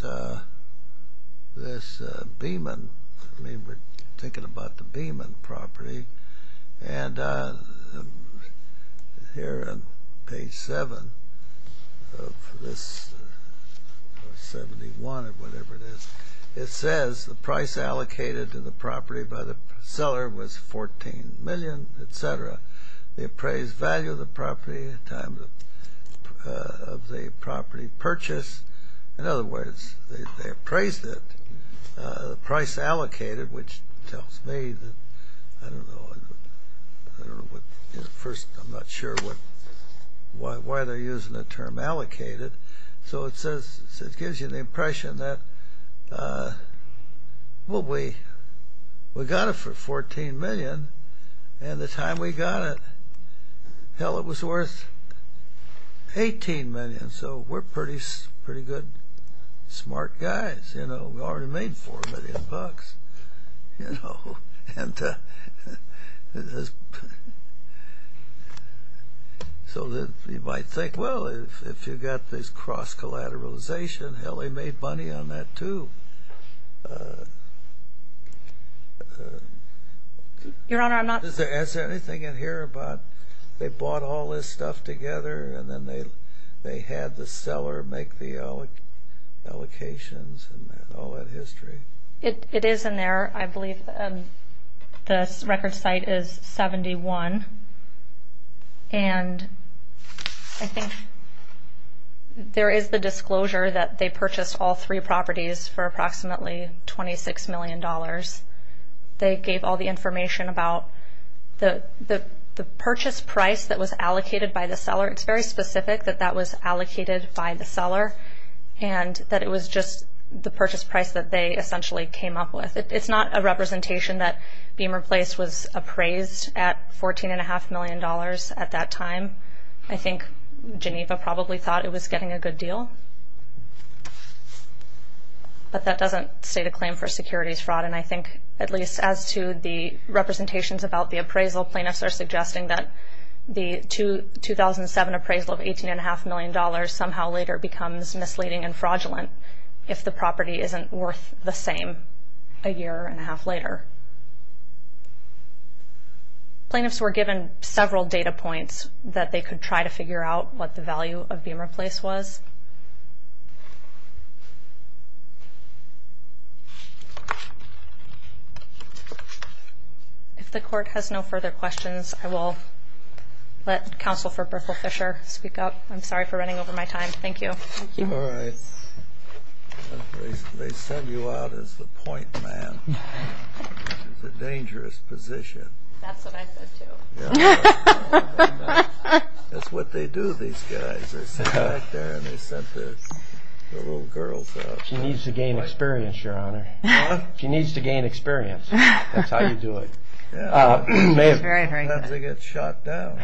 this Beeman. I mean, we're thinking about the Beeman property. And here on page 7 of this, 71 or whatever it is, it says the price allocated to the property by the seller was $14 million, et cetera. The appraised value of the property times the property purchase. In other words, they appraised it. The price allocated, which tells me that, I don't know, first I'm not sure why they're using the term allocated. So it gives you the impression that, well, we got it for $14 million, and the time we got it, hell, it was worth $18 million. So we're pretty good, smart guys, you know. We already made $4 million, you know. And so you might think, well, if you've got this cross-collateralization, hell, they made money on that, too. Your Honor, I'm not... Is there anything in here about they bought all this stuff together and then they had the seller make the allocations and all that history? It is in there. I believe the record site is 71. And I think there is the disclosure that they purchased all three properties for approximately $26 million. They gave all the information about the purchase price that was allocated by the seller. And that it was just the purchase price that they essentially came up with. It's not a representation that Beamer Place was appraised at $14.5 million at that time. I think Geneva probably thought it was getting a good deal. But that doesn't state a claim for securities fraud. And I think, at least as to the representations about the appraisal, plaintiffs are suggesting that the 2007 appraisal of $18.5 million somehow later becomes misleading and fraudulent if the property isn't worth the same a year and a half later. Plaintiffs were given several data points that they could try to figure out what the value of Beamer Place was. If the Court has no further questions, I will let Counsel for Berthel Fisher speak up. I'm sorry for running over my time. Thank you. All right. They sent you out as the point man. It's a dangerous position. That's what I said, too. That's what they do, these guys. They sit back there and they sent the little girls out. She needs to gain experience, Your Honor. What? She needs to gain experience. That's how you do it. Sometimes they get shot down.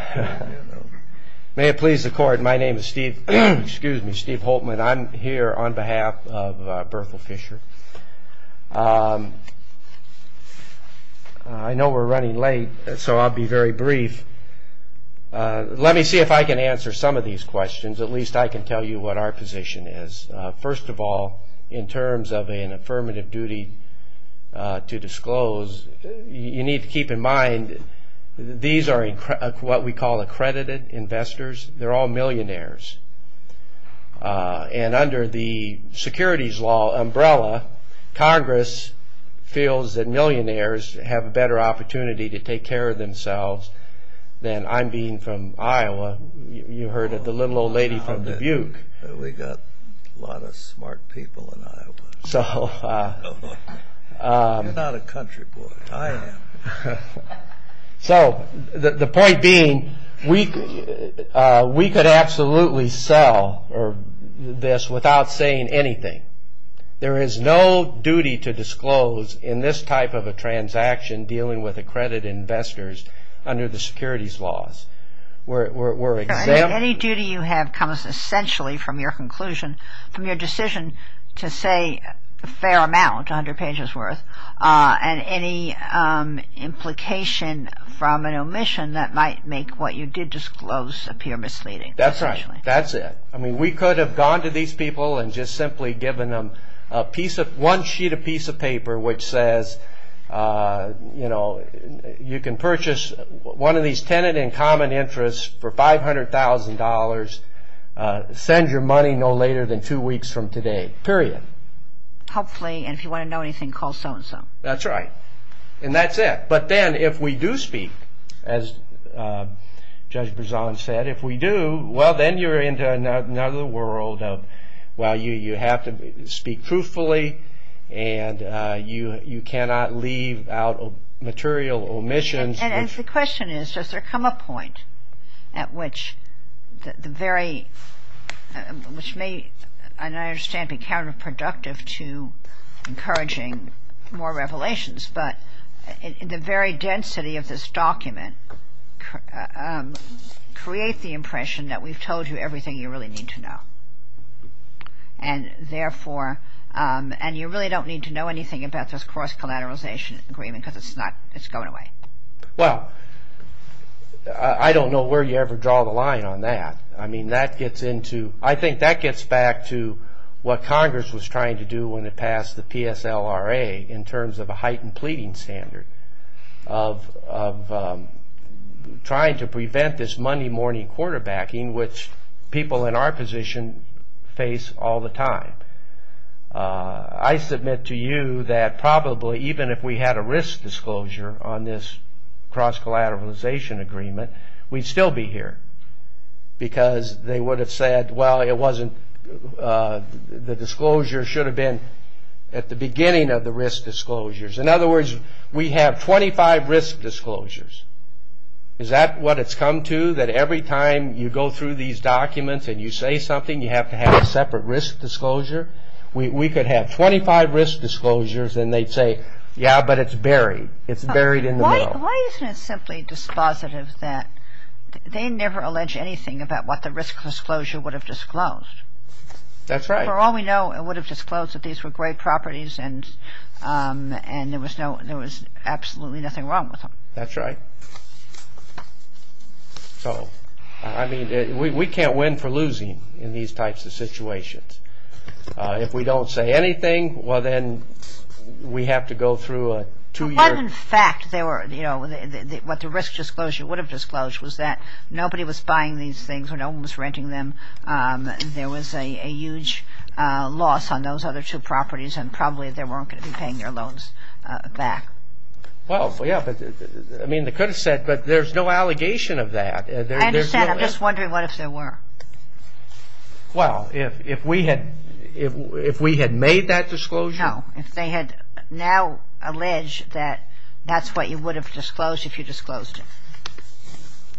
May it please the Court, my name is Steve Holtman. I'm here on behalf of Berthel Fisher. I know we're running late, so I'll be very brief. Let me see if I can answer some of these questions. At least I can tell you what our position is. First of all, in terms of an affirmative duty to disclose, you need to keep in mind these are what we call accredited investors. They're all millionaires. And under the securities law umbrella, Congress feels that millionaires have a better opportunity to take care of themselves than I'm being from Iowa. You heard of the little old lady from Dubuque. We've got a lot of smart people in Iowa. You're not a country boy, I am. So the point being, we could absolutely sell this without saying anything. There is no duty to disclose in this type of a transaction dealing with accredited investors under the securities laws. Any duty you have comes essentially from your conclusion, from your decision to say a fair amount, 100 pages worth, and any implication from an omission that might make what you did disclose appear misleading. That's right. That's it. We could have gone to these people and just simply given them one sheet of piece of paper which says you can purchase one of these tenant in common interest for $500,000. Send your money no later than two weeks from today, period. Hopefully, and if you want to know anything, call so-and-so. That's right. And that's it. But then if we do speak, as Judge Berzon said, if we do, well, then you're into another world of, well, you have to speak truthfully and you cannot leave out material omissions. And the question is, does there come a point at which the very, which may, and I understand be counterproductive to encouraging more revelations, but the very density of this document create the impression that we've told you everything you really need to know. And therefore, and you really don't need to know anything about this cross-collateralization agreement because it's not, it's going away. Well, I don't know where you ever draw the line on that. I mean, that gets into, I think that gets back to what Congress was trying to do when it passed the PSLRA in terms of a heightened pleading standard of trying to prevent this Monday morning quarterbacking which people in our position face all the time. I submit to you that probably even if we had a risk disclosure on this cross-collateralization agreement, we'd still be here because they would have said, well, it wasn't, the disclosure should have been at the beginning of the risk disclosures. In other words, we have 25 risk disclosures. Is that what it's come to, that every time you go through these documents and you say something, you have to have a separate risk disclosure? We could have 25 risk disclosures and they'd say, yeah, but it's buried. It's buried in the middle. Why isn't it simply dispositive that they never allege anything about what the risk disclosure would have disclosed? That's right. For all we know, it would have disclosed that these were great properties and there was absolutely nothing wrong with them. That's right. So, I mean, we can't win for losing in these types of situations. If we don't say anything, well, then we have to go through a two-year- But what, in fact, what the risk disclosure would have disclosed was that nobody was buying these things or no one was renting them. There was a huge loss on those other two properties and probably they weren't going to be paying their loans back. Well, yeah, I mean, they could have said, but there's no allegation of that. I understand. I'm just wondering what if there were? Well, if we had made that disclosure? No, if they had now alleged that that's what you would have disclosed if you disclosed it.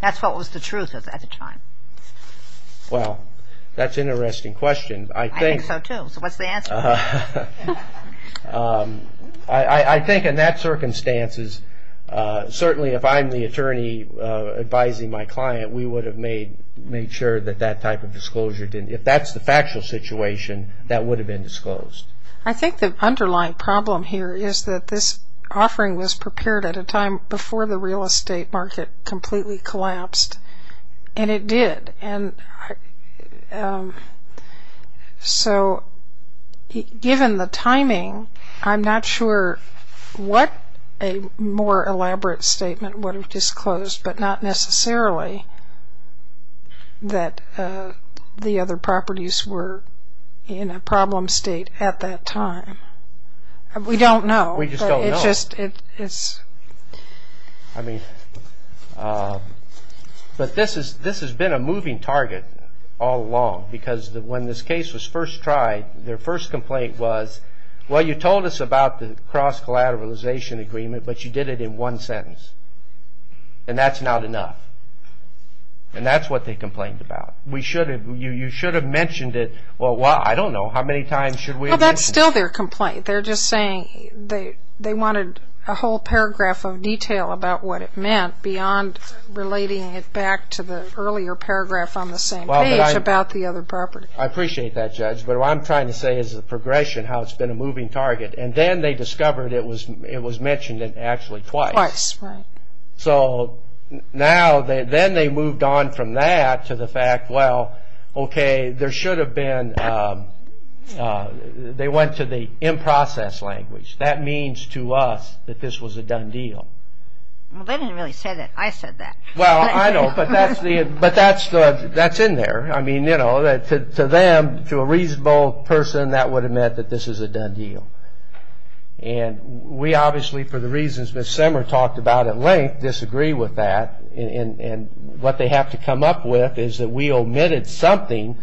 That's what was the truth at the time. Well, that's an interesting question. I think so, too. So what's the answer? I think in that circumstances, certainly if I'm the attorney advising my client, we would have made sure that that type of disclosure didn't. If that's the factual situation, that would have been disclosed. I think the underlying problem here is that this offering was prepared at a time before the real estate market completely collapsed, and it did. And so given the timing, I'm not sure what a more elaborate statement would have disclosed, but not necessarily that the other properties were in a problem state at that time. We don't know. We just don't know. I mean, but this has been a moving target all along because when this case was first tried, their first complaint was, well, you told us about the cross-collateralization agreement, but you did it in one sentence, and that's not enough. And that's what they complained about. You should have mentioned it. Well, I don't know. How many times should we have mentioned it? Well, that's still their complaint. They're just saying they wanted a whole paragraph of detail about what it meant beyond relating it back to the earlier paragraph on the same page about the other property. I appreciate that, Judge, but what I'm trying to say is the progression, how it's been a moving target. And then they discovered it was mentioned actually twice. Twice, right. So now then they moved on from that to the fact, well, okay, there should have been – they went to the in-process language. That means to us that this was a done deal. Well, they didn't really say that. I said that. Well, I know, but that's in there. I mean, you know, to them, to a reasonable person, that would have meant that this is a done deal. And we obviously, for the reasons Ms. Semmer talked about at length, disagree with that. And what they have to come up with is that we omitted something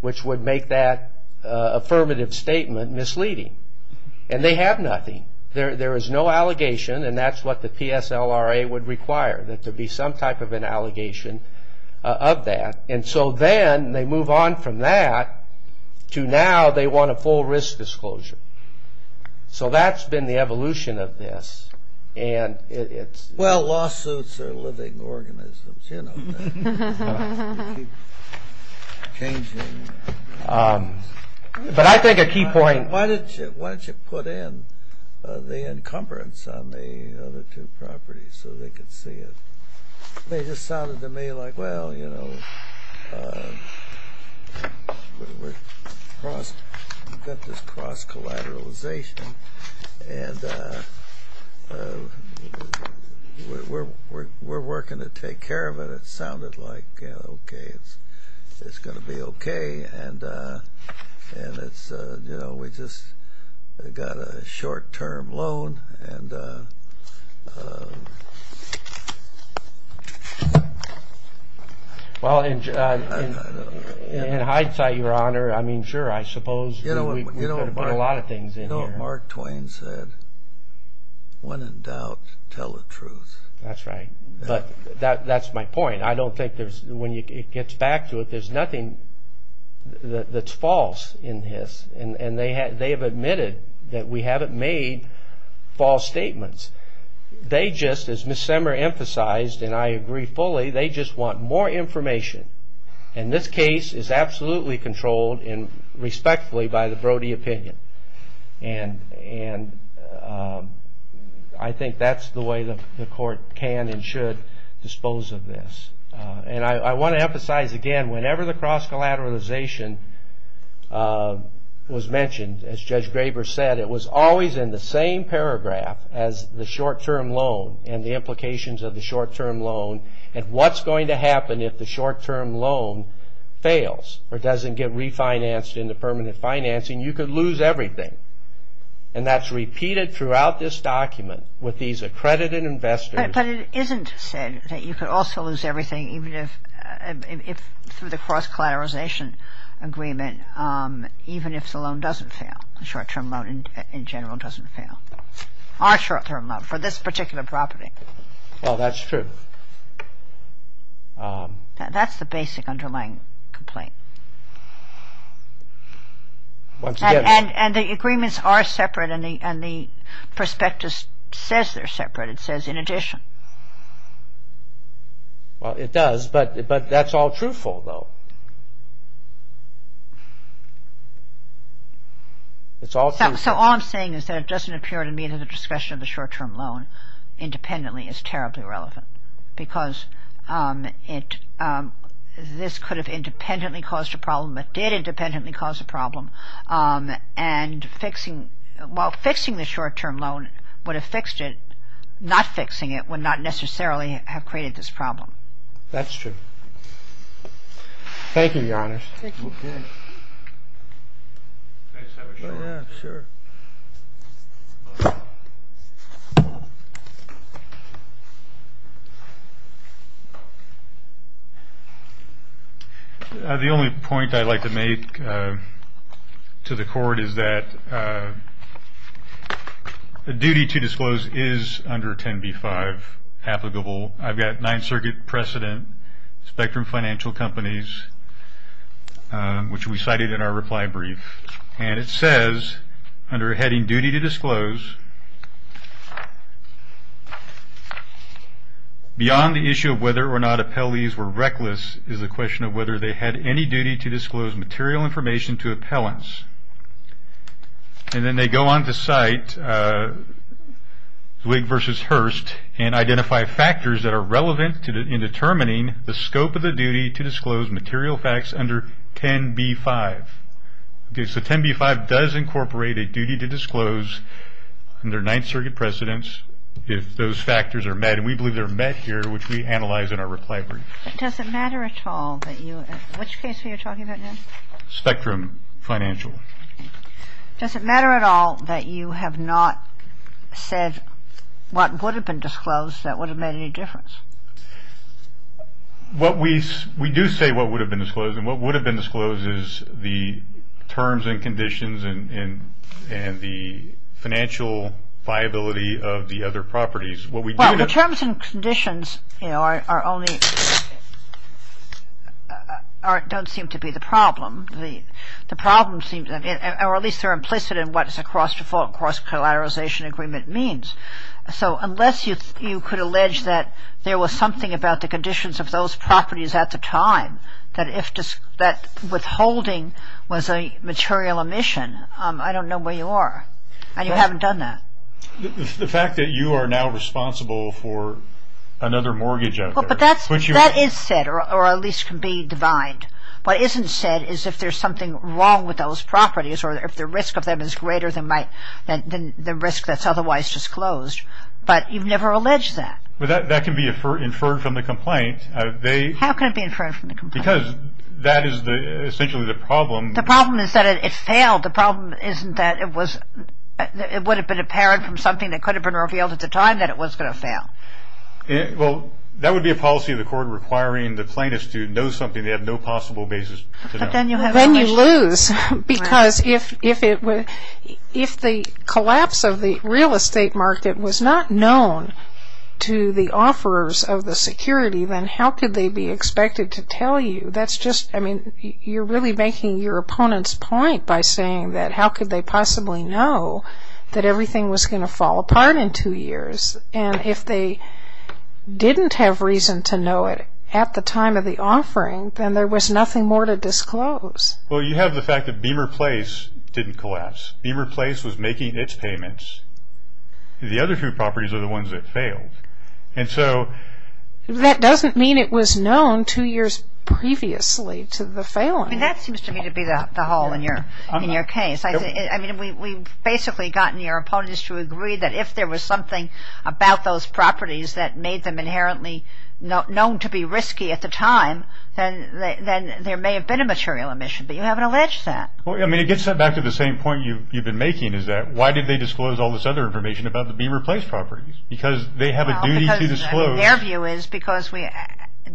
which would make that affirmative statement misleading. And they have nothing. There is no allegation, and that's what the PSLRA would require, that there be some type of an allegation of that. And so then they move on from that to now they want a full risk disclosure. So that's been the evolution of this. Well, lawsuits are living organisms. You know that. They keep changing. But I think a key point – Why don't you put in the encumbrance on the other two properties so they could see it? They just sounded to me like, well, you know, we've got this cross-collateralization and we're working to take care of it. It sounded like, you know, okay, it's going to be okay. And, you know, we just got a short-term loan. Well, in hindsight, Your Honor, I mean, sure, I suppose we could have put a lot of things in here. Mark Twain said, when in doubt, tell the truth. That's right. But that's my point. I don't think there's – when it gets back to it, there's nothing that's false in this. And they have admitted that we haven't made false statements. They just, as Ms. Semmer emphasized, and I agree fully, they just want more information. And this case is absolutely controlled and respectfully by the Brody opinion. And I think that's the way the court can and should dispose of this. And I want to emphasize again, whenever the cross-collateralization was mentioned, as Judge Graber said, it was always in the same paragraph as the short-term loan and the implications of the short-term loan and what's going to happen if the short-term loan fails or doesn't get refinanced into permanent financing. You could lose everything. And that's repeated throughout this document with these accredited investors. But it isn't said that you could also lose everything even if – through the cross-collateralization agreement, even if the loan doesn't fail, the short-term loan in general doesn't fail, our short-term loan for this particular property. Well, that's true. That's the basic underlying complaint. And the agreements are separate and the prospectus says they're separate. It says in addition. Well, it does, but that's all truthful, though. It's all true. So all I'm saying is that it doesn't appear to me that the discussion of the short-term loan independently is terribly relevant because this could have independently caused a problem. It did independently cause a problem. And while fixing the short-term loan would have fixed it, not fixing it would not necessarily have created this problem. That's true. Thank you, Your Honors. Thank you. Yeah, sure. The only point I'd like to make to the Court is that the duty to disclose is under 10b-5 applicable. I've got Ninth Circuit precedent, Spectrum Financial Companies, which we cited in our reply brief. And it says under heading duty to disclose, beyond the issue of whether or not appellees were reckless is the question of whether they had any duty to disclose material information to appellants. And then they go on to cite Wig versus Hurst and identify factors that are relevant in determining the scope of the duty to disclose material facts under 10b-5. Okay, so 10b-5 does incorporate a duty to disclose under Ninth Circuit precedence if those factors are met. And we believe they're met here, which we analyze in our reply brief. Does it matter at all which case we are talking about now? Spectrum Financial. Does it matter at all that you have not said what would have been disclosed that would have made any difference? What we do say what would have been disclosed, and what would have been disclosed is the terms and conditions and the financial viability of the other properties. Well, the terms and conditions are only, don't seem to be the problem. The problem seems, or at least they're implicit in what a cross-default, cross-collateralization agreement means. So unless you could allege that there was something about the conditions of those properties at the time, that withholding was a material omission, I don't know where you are. And you haven't done that. The fact that you are now responsible for another mortgage out there. That is said, or at least can be divined. What isn't said is if there's something wrong with those properties, or if the risk of them is greater than the risk that's otherwise disclosed. But you've never alleged that. That can be inferred from the complaint. How can it be inferred from the complaint? Because that is essentially the problem. The problem is that it failed. The problem isn't that it was, it would have been apparent from something that could have been revealed at the time that it was going to fail. Well, that would be a policy of the court requiring the plaintiff to know something they have no possible basis to know. Then you lose. Because if the collapse of the real estate market was not known to the offerers of the security, then how could they be expected to tell you? That's just, I mean, you're really making your opponent's point by saying that how could they possibly know that everything was going to fall apart in two years? And if they didn't have reason to know it at the time of the offering, then there was nothing more to disclose. Well, you have the fact that Beamer Place didn't collapse. Beamer Place was making its payments. The other two properties are the ones that failed. That doesn't mean it was known two years previously to the failing. I mean, that seems to me to be the hole in your case. I mean, we've basically gotten your opponents to agree that if there was something about those properties that made them inherently known to be risky at the time, then there may have been a material omission. But you haven't alleged that. Well, I mean, it gets back to the same point you've been making, is that why did they disclose all this other information about the Beamer Place properties? Because they have a duty to disclose. Well, their view is because we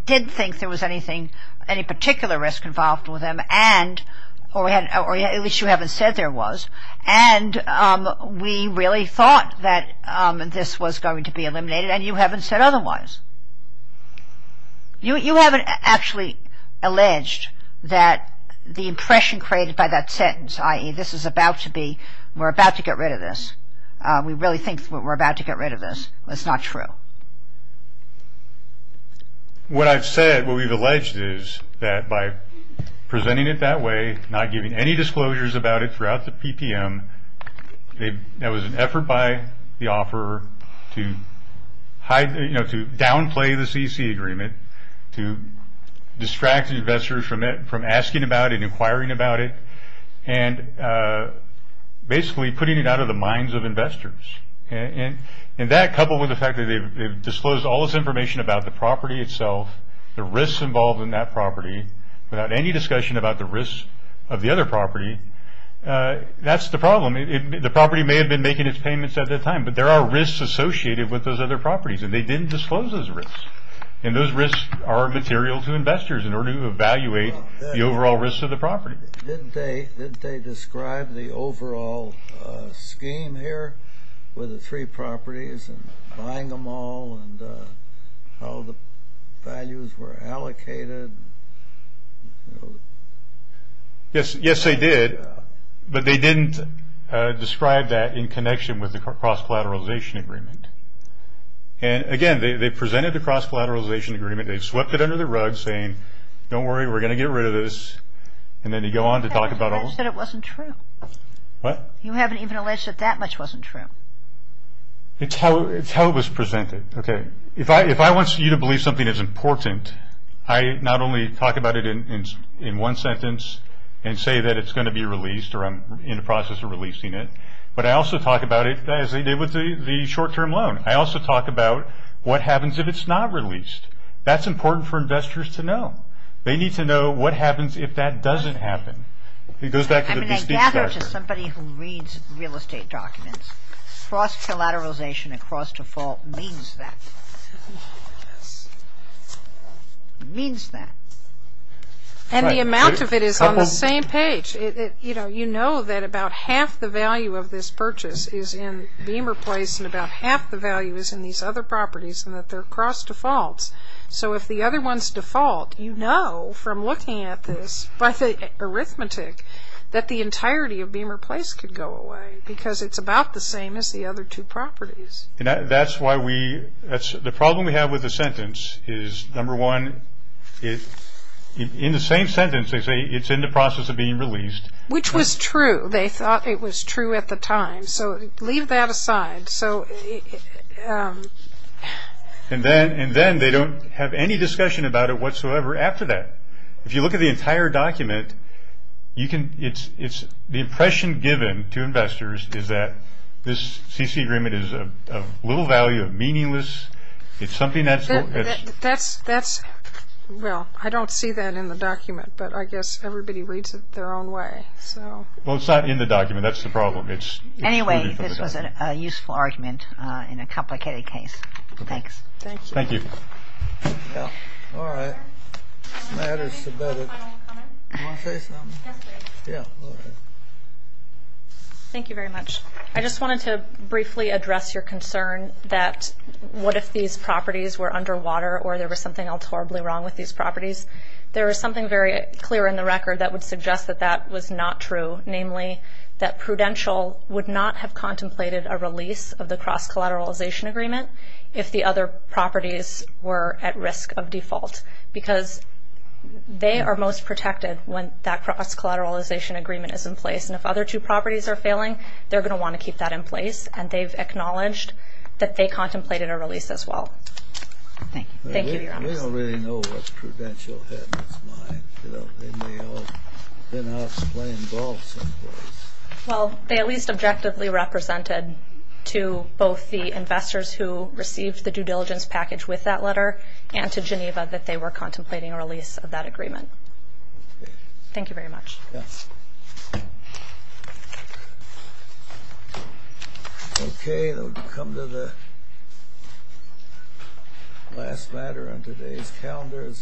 didn't think there was anything, any particular risk involved with them, or at least you haven't said there was. And we really thought that this was going to be eliminated, and you haven't said otherwise. You haven't actually alleged that the impression created by that sentence, i.e., this is about to be, we're about to get rid of this. We really think we're about to get rid of this. That's not true. What I've said, what we've alleged is that by presenting it that way, not giving any disclosures about it throughout the PPM, there was an effort by the offeror to downplay the CC agreement, to distract investors from asking about it and inquiring about it, and basically putting it out of the minds of investors. And that, coupled with the fact that they've disclosed all this information about the property itself, the risks involved in that property, without any discussion about the risks of the other property, that's the problem. The property may have been making its payments at that time, but there are risks associated with those other properties, and they didn't disclose those risks. And those risks are material to investors in order to evaluate the overall risks of the property. Did they describe the overall scheme here with the three properties, and buying them all, and how the values were allocated? Yes, they did. But they didn't describe that in connection with the cross-collateralization agreement. And again, they presented the cross-collateralization agreement. They swept it under the rug, saying, don't worry, we're going to get rid of this. You haven't even alleged that it wasn't true. What? You haven't even alleged that that much wasn't true. It's how it was presented. Okay. If I want you to believe something is important, I not only talk about it in one sentence and say that it's going to be released, or I'm in the process of releasing it, but I also talk about it as they did with the short-term loan. I also talk about what happens if it's not released. That's important for investors to know. They need to know what happens if that doesn't happen. It goes back to the bespeak structure. I mean, I gather to somebody who reads real estate documents, cross-collateralization and cross-default means that. It means that. And the amount of it is on the same page. You know that about half the value of this purchase is in Beamer Place, and about half the value is in these other properties, and that they're cross-defaults. So if the other one's default, you know from looking at this by the arithmetic that the entirety of Beamer Place could go away because it's about the same as the other two properties. That's why we – the problem we have with the sentence is, number one, in the same sentence they say it's in the process of being released. Which was true. They thought it was true at the time. So leave that aside. And then they don't have any discussion about it whatsoever after that. If you look at the entire document, you can – it's the impression given to investors is that this CC agreement is of little value, of meaningless. It's something that's – That's – well, I don't see that in the document, but I guess everybody reads it their own way. Well, it's not in the document. That's the problem. Anyway, this was a useful argument in a complicated case. Thanks. Thank you. Thank you. Yeah. All right. Matt is submitted. Final comment? You want to say something? Yes, please. Yeah. All right. Thank you very much. I just wanted to briefly address your concern that what if these properties were underwater or there was something else horribly wrong with these properties? There is something very clear in the record that would suggest that that was not true, namely that Prudential would not have contemplated a release of the cross-collateralization agreement if the other properties were at risk of default because they are most protected when that cross-collateralization agreement is in place. And if other two properties are failing, they're going to want to keep that in place, and they've acknowledged that they contemplated a release as well. Thank you. Thank you, Your Honors. They don't really know what Prudential had in its mind. They may have been out playing golf someplace. Well, they at least objectively represented to both the investors who received the due diligence package with that letter and to Geneva that they were contemplating a release of that agreement. Okay. Thank you very much. Yes. Okay, we'll come to the last matter on today's calendar.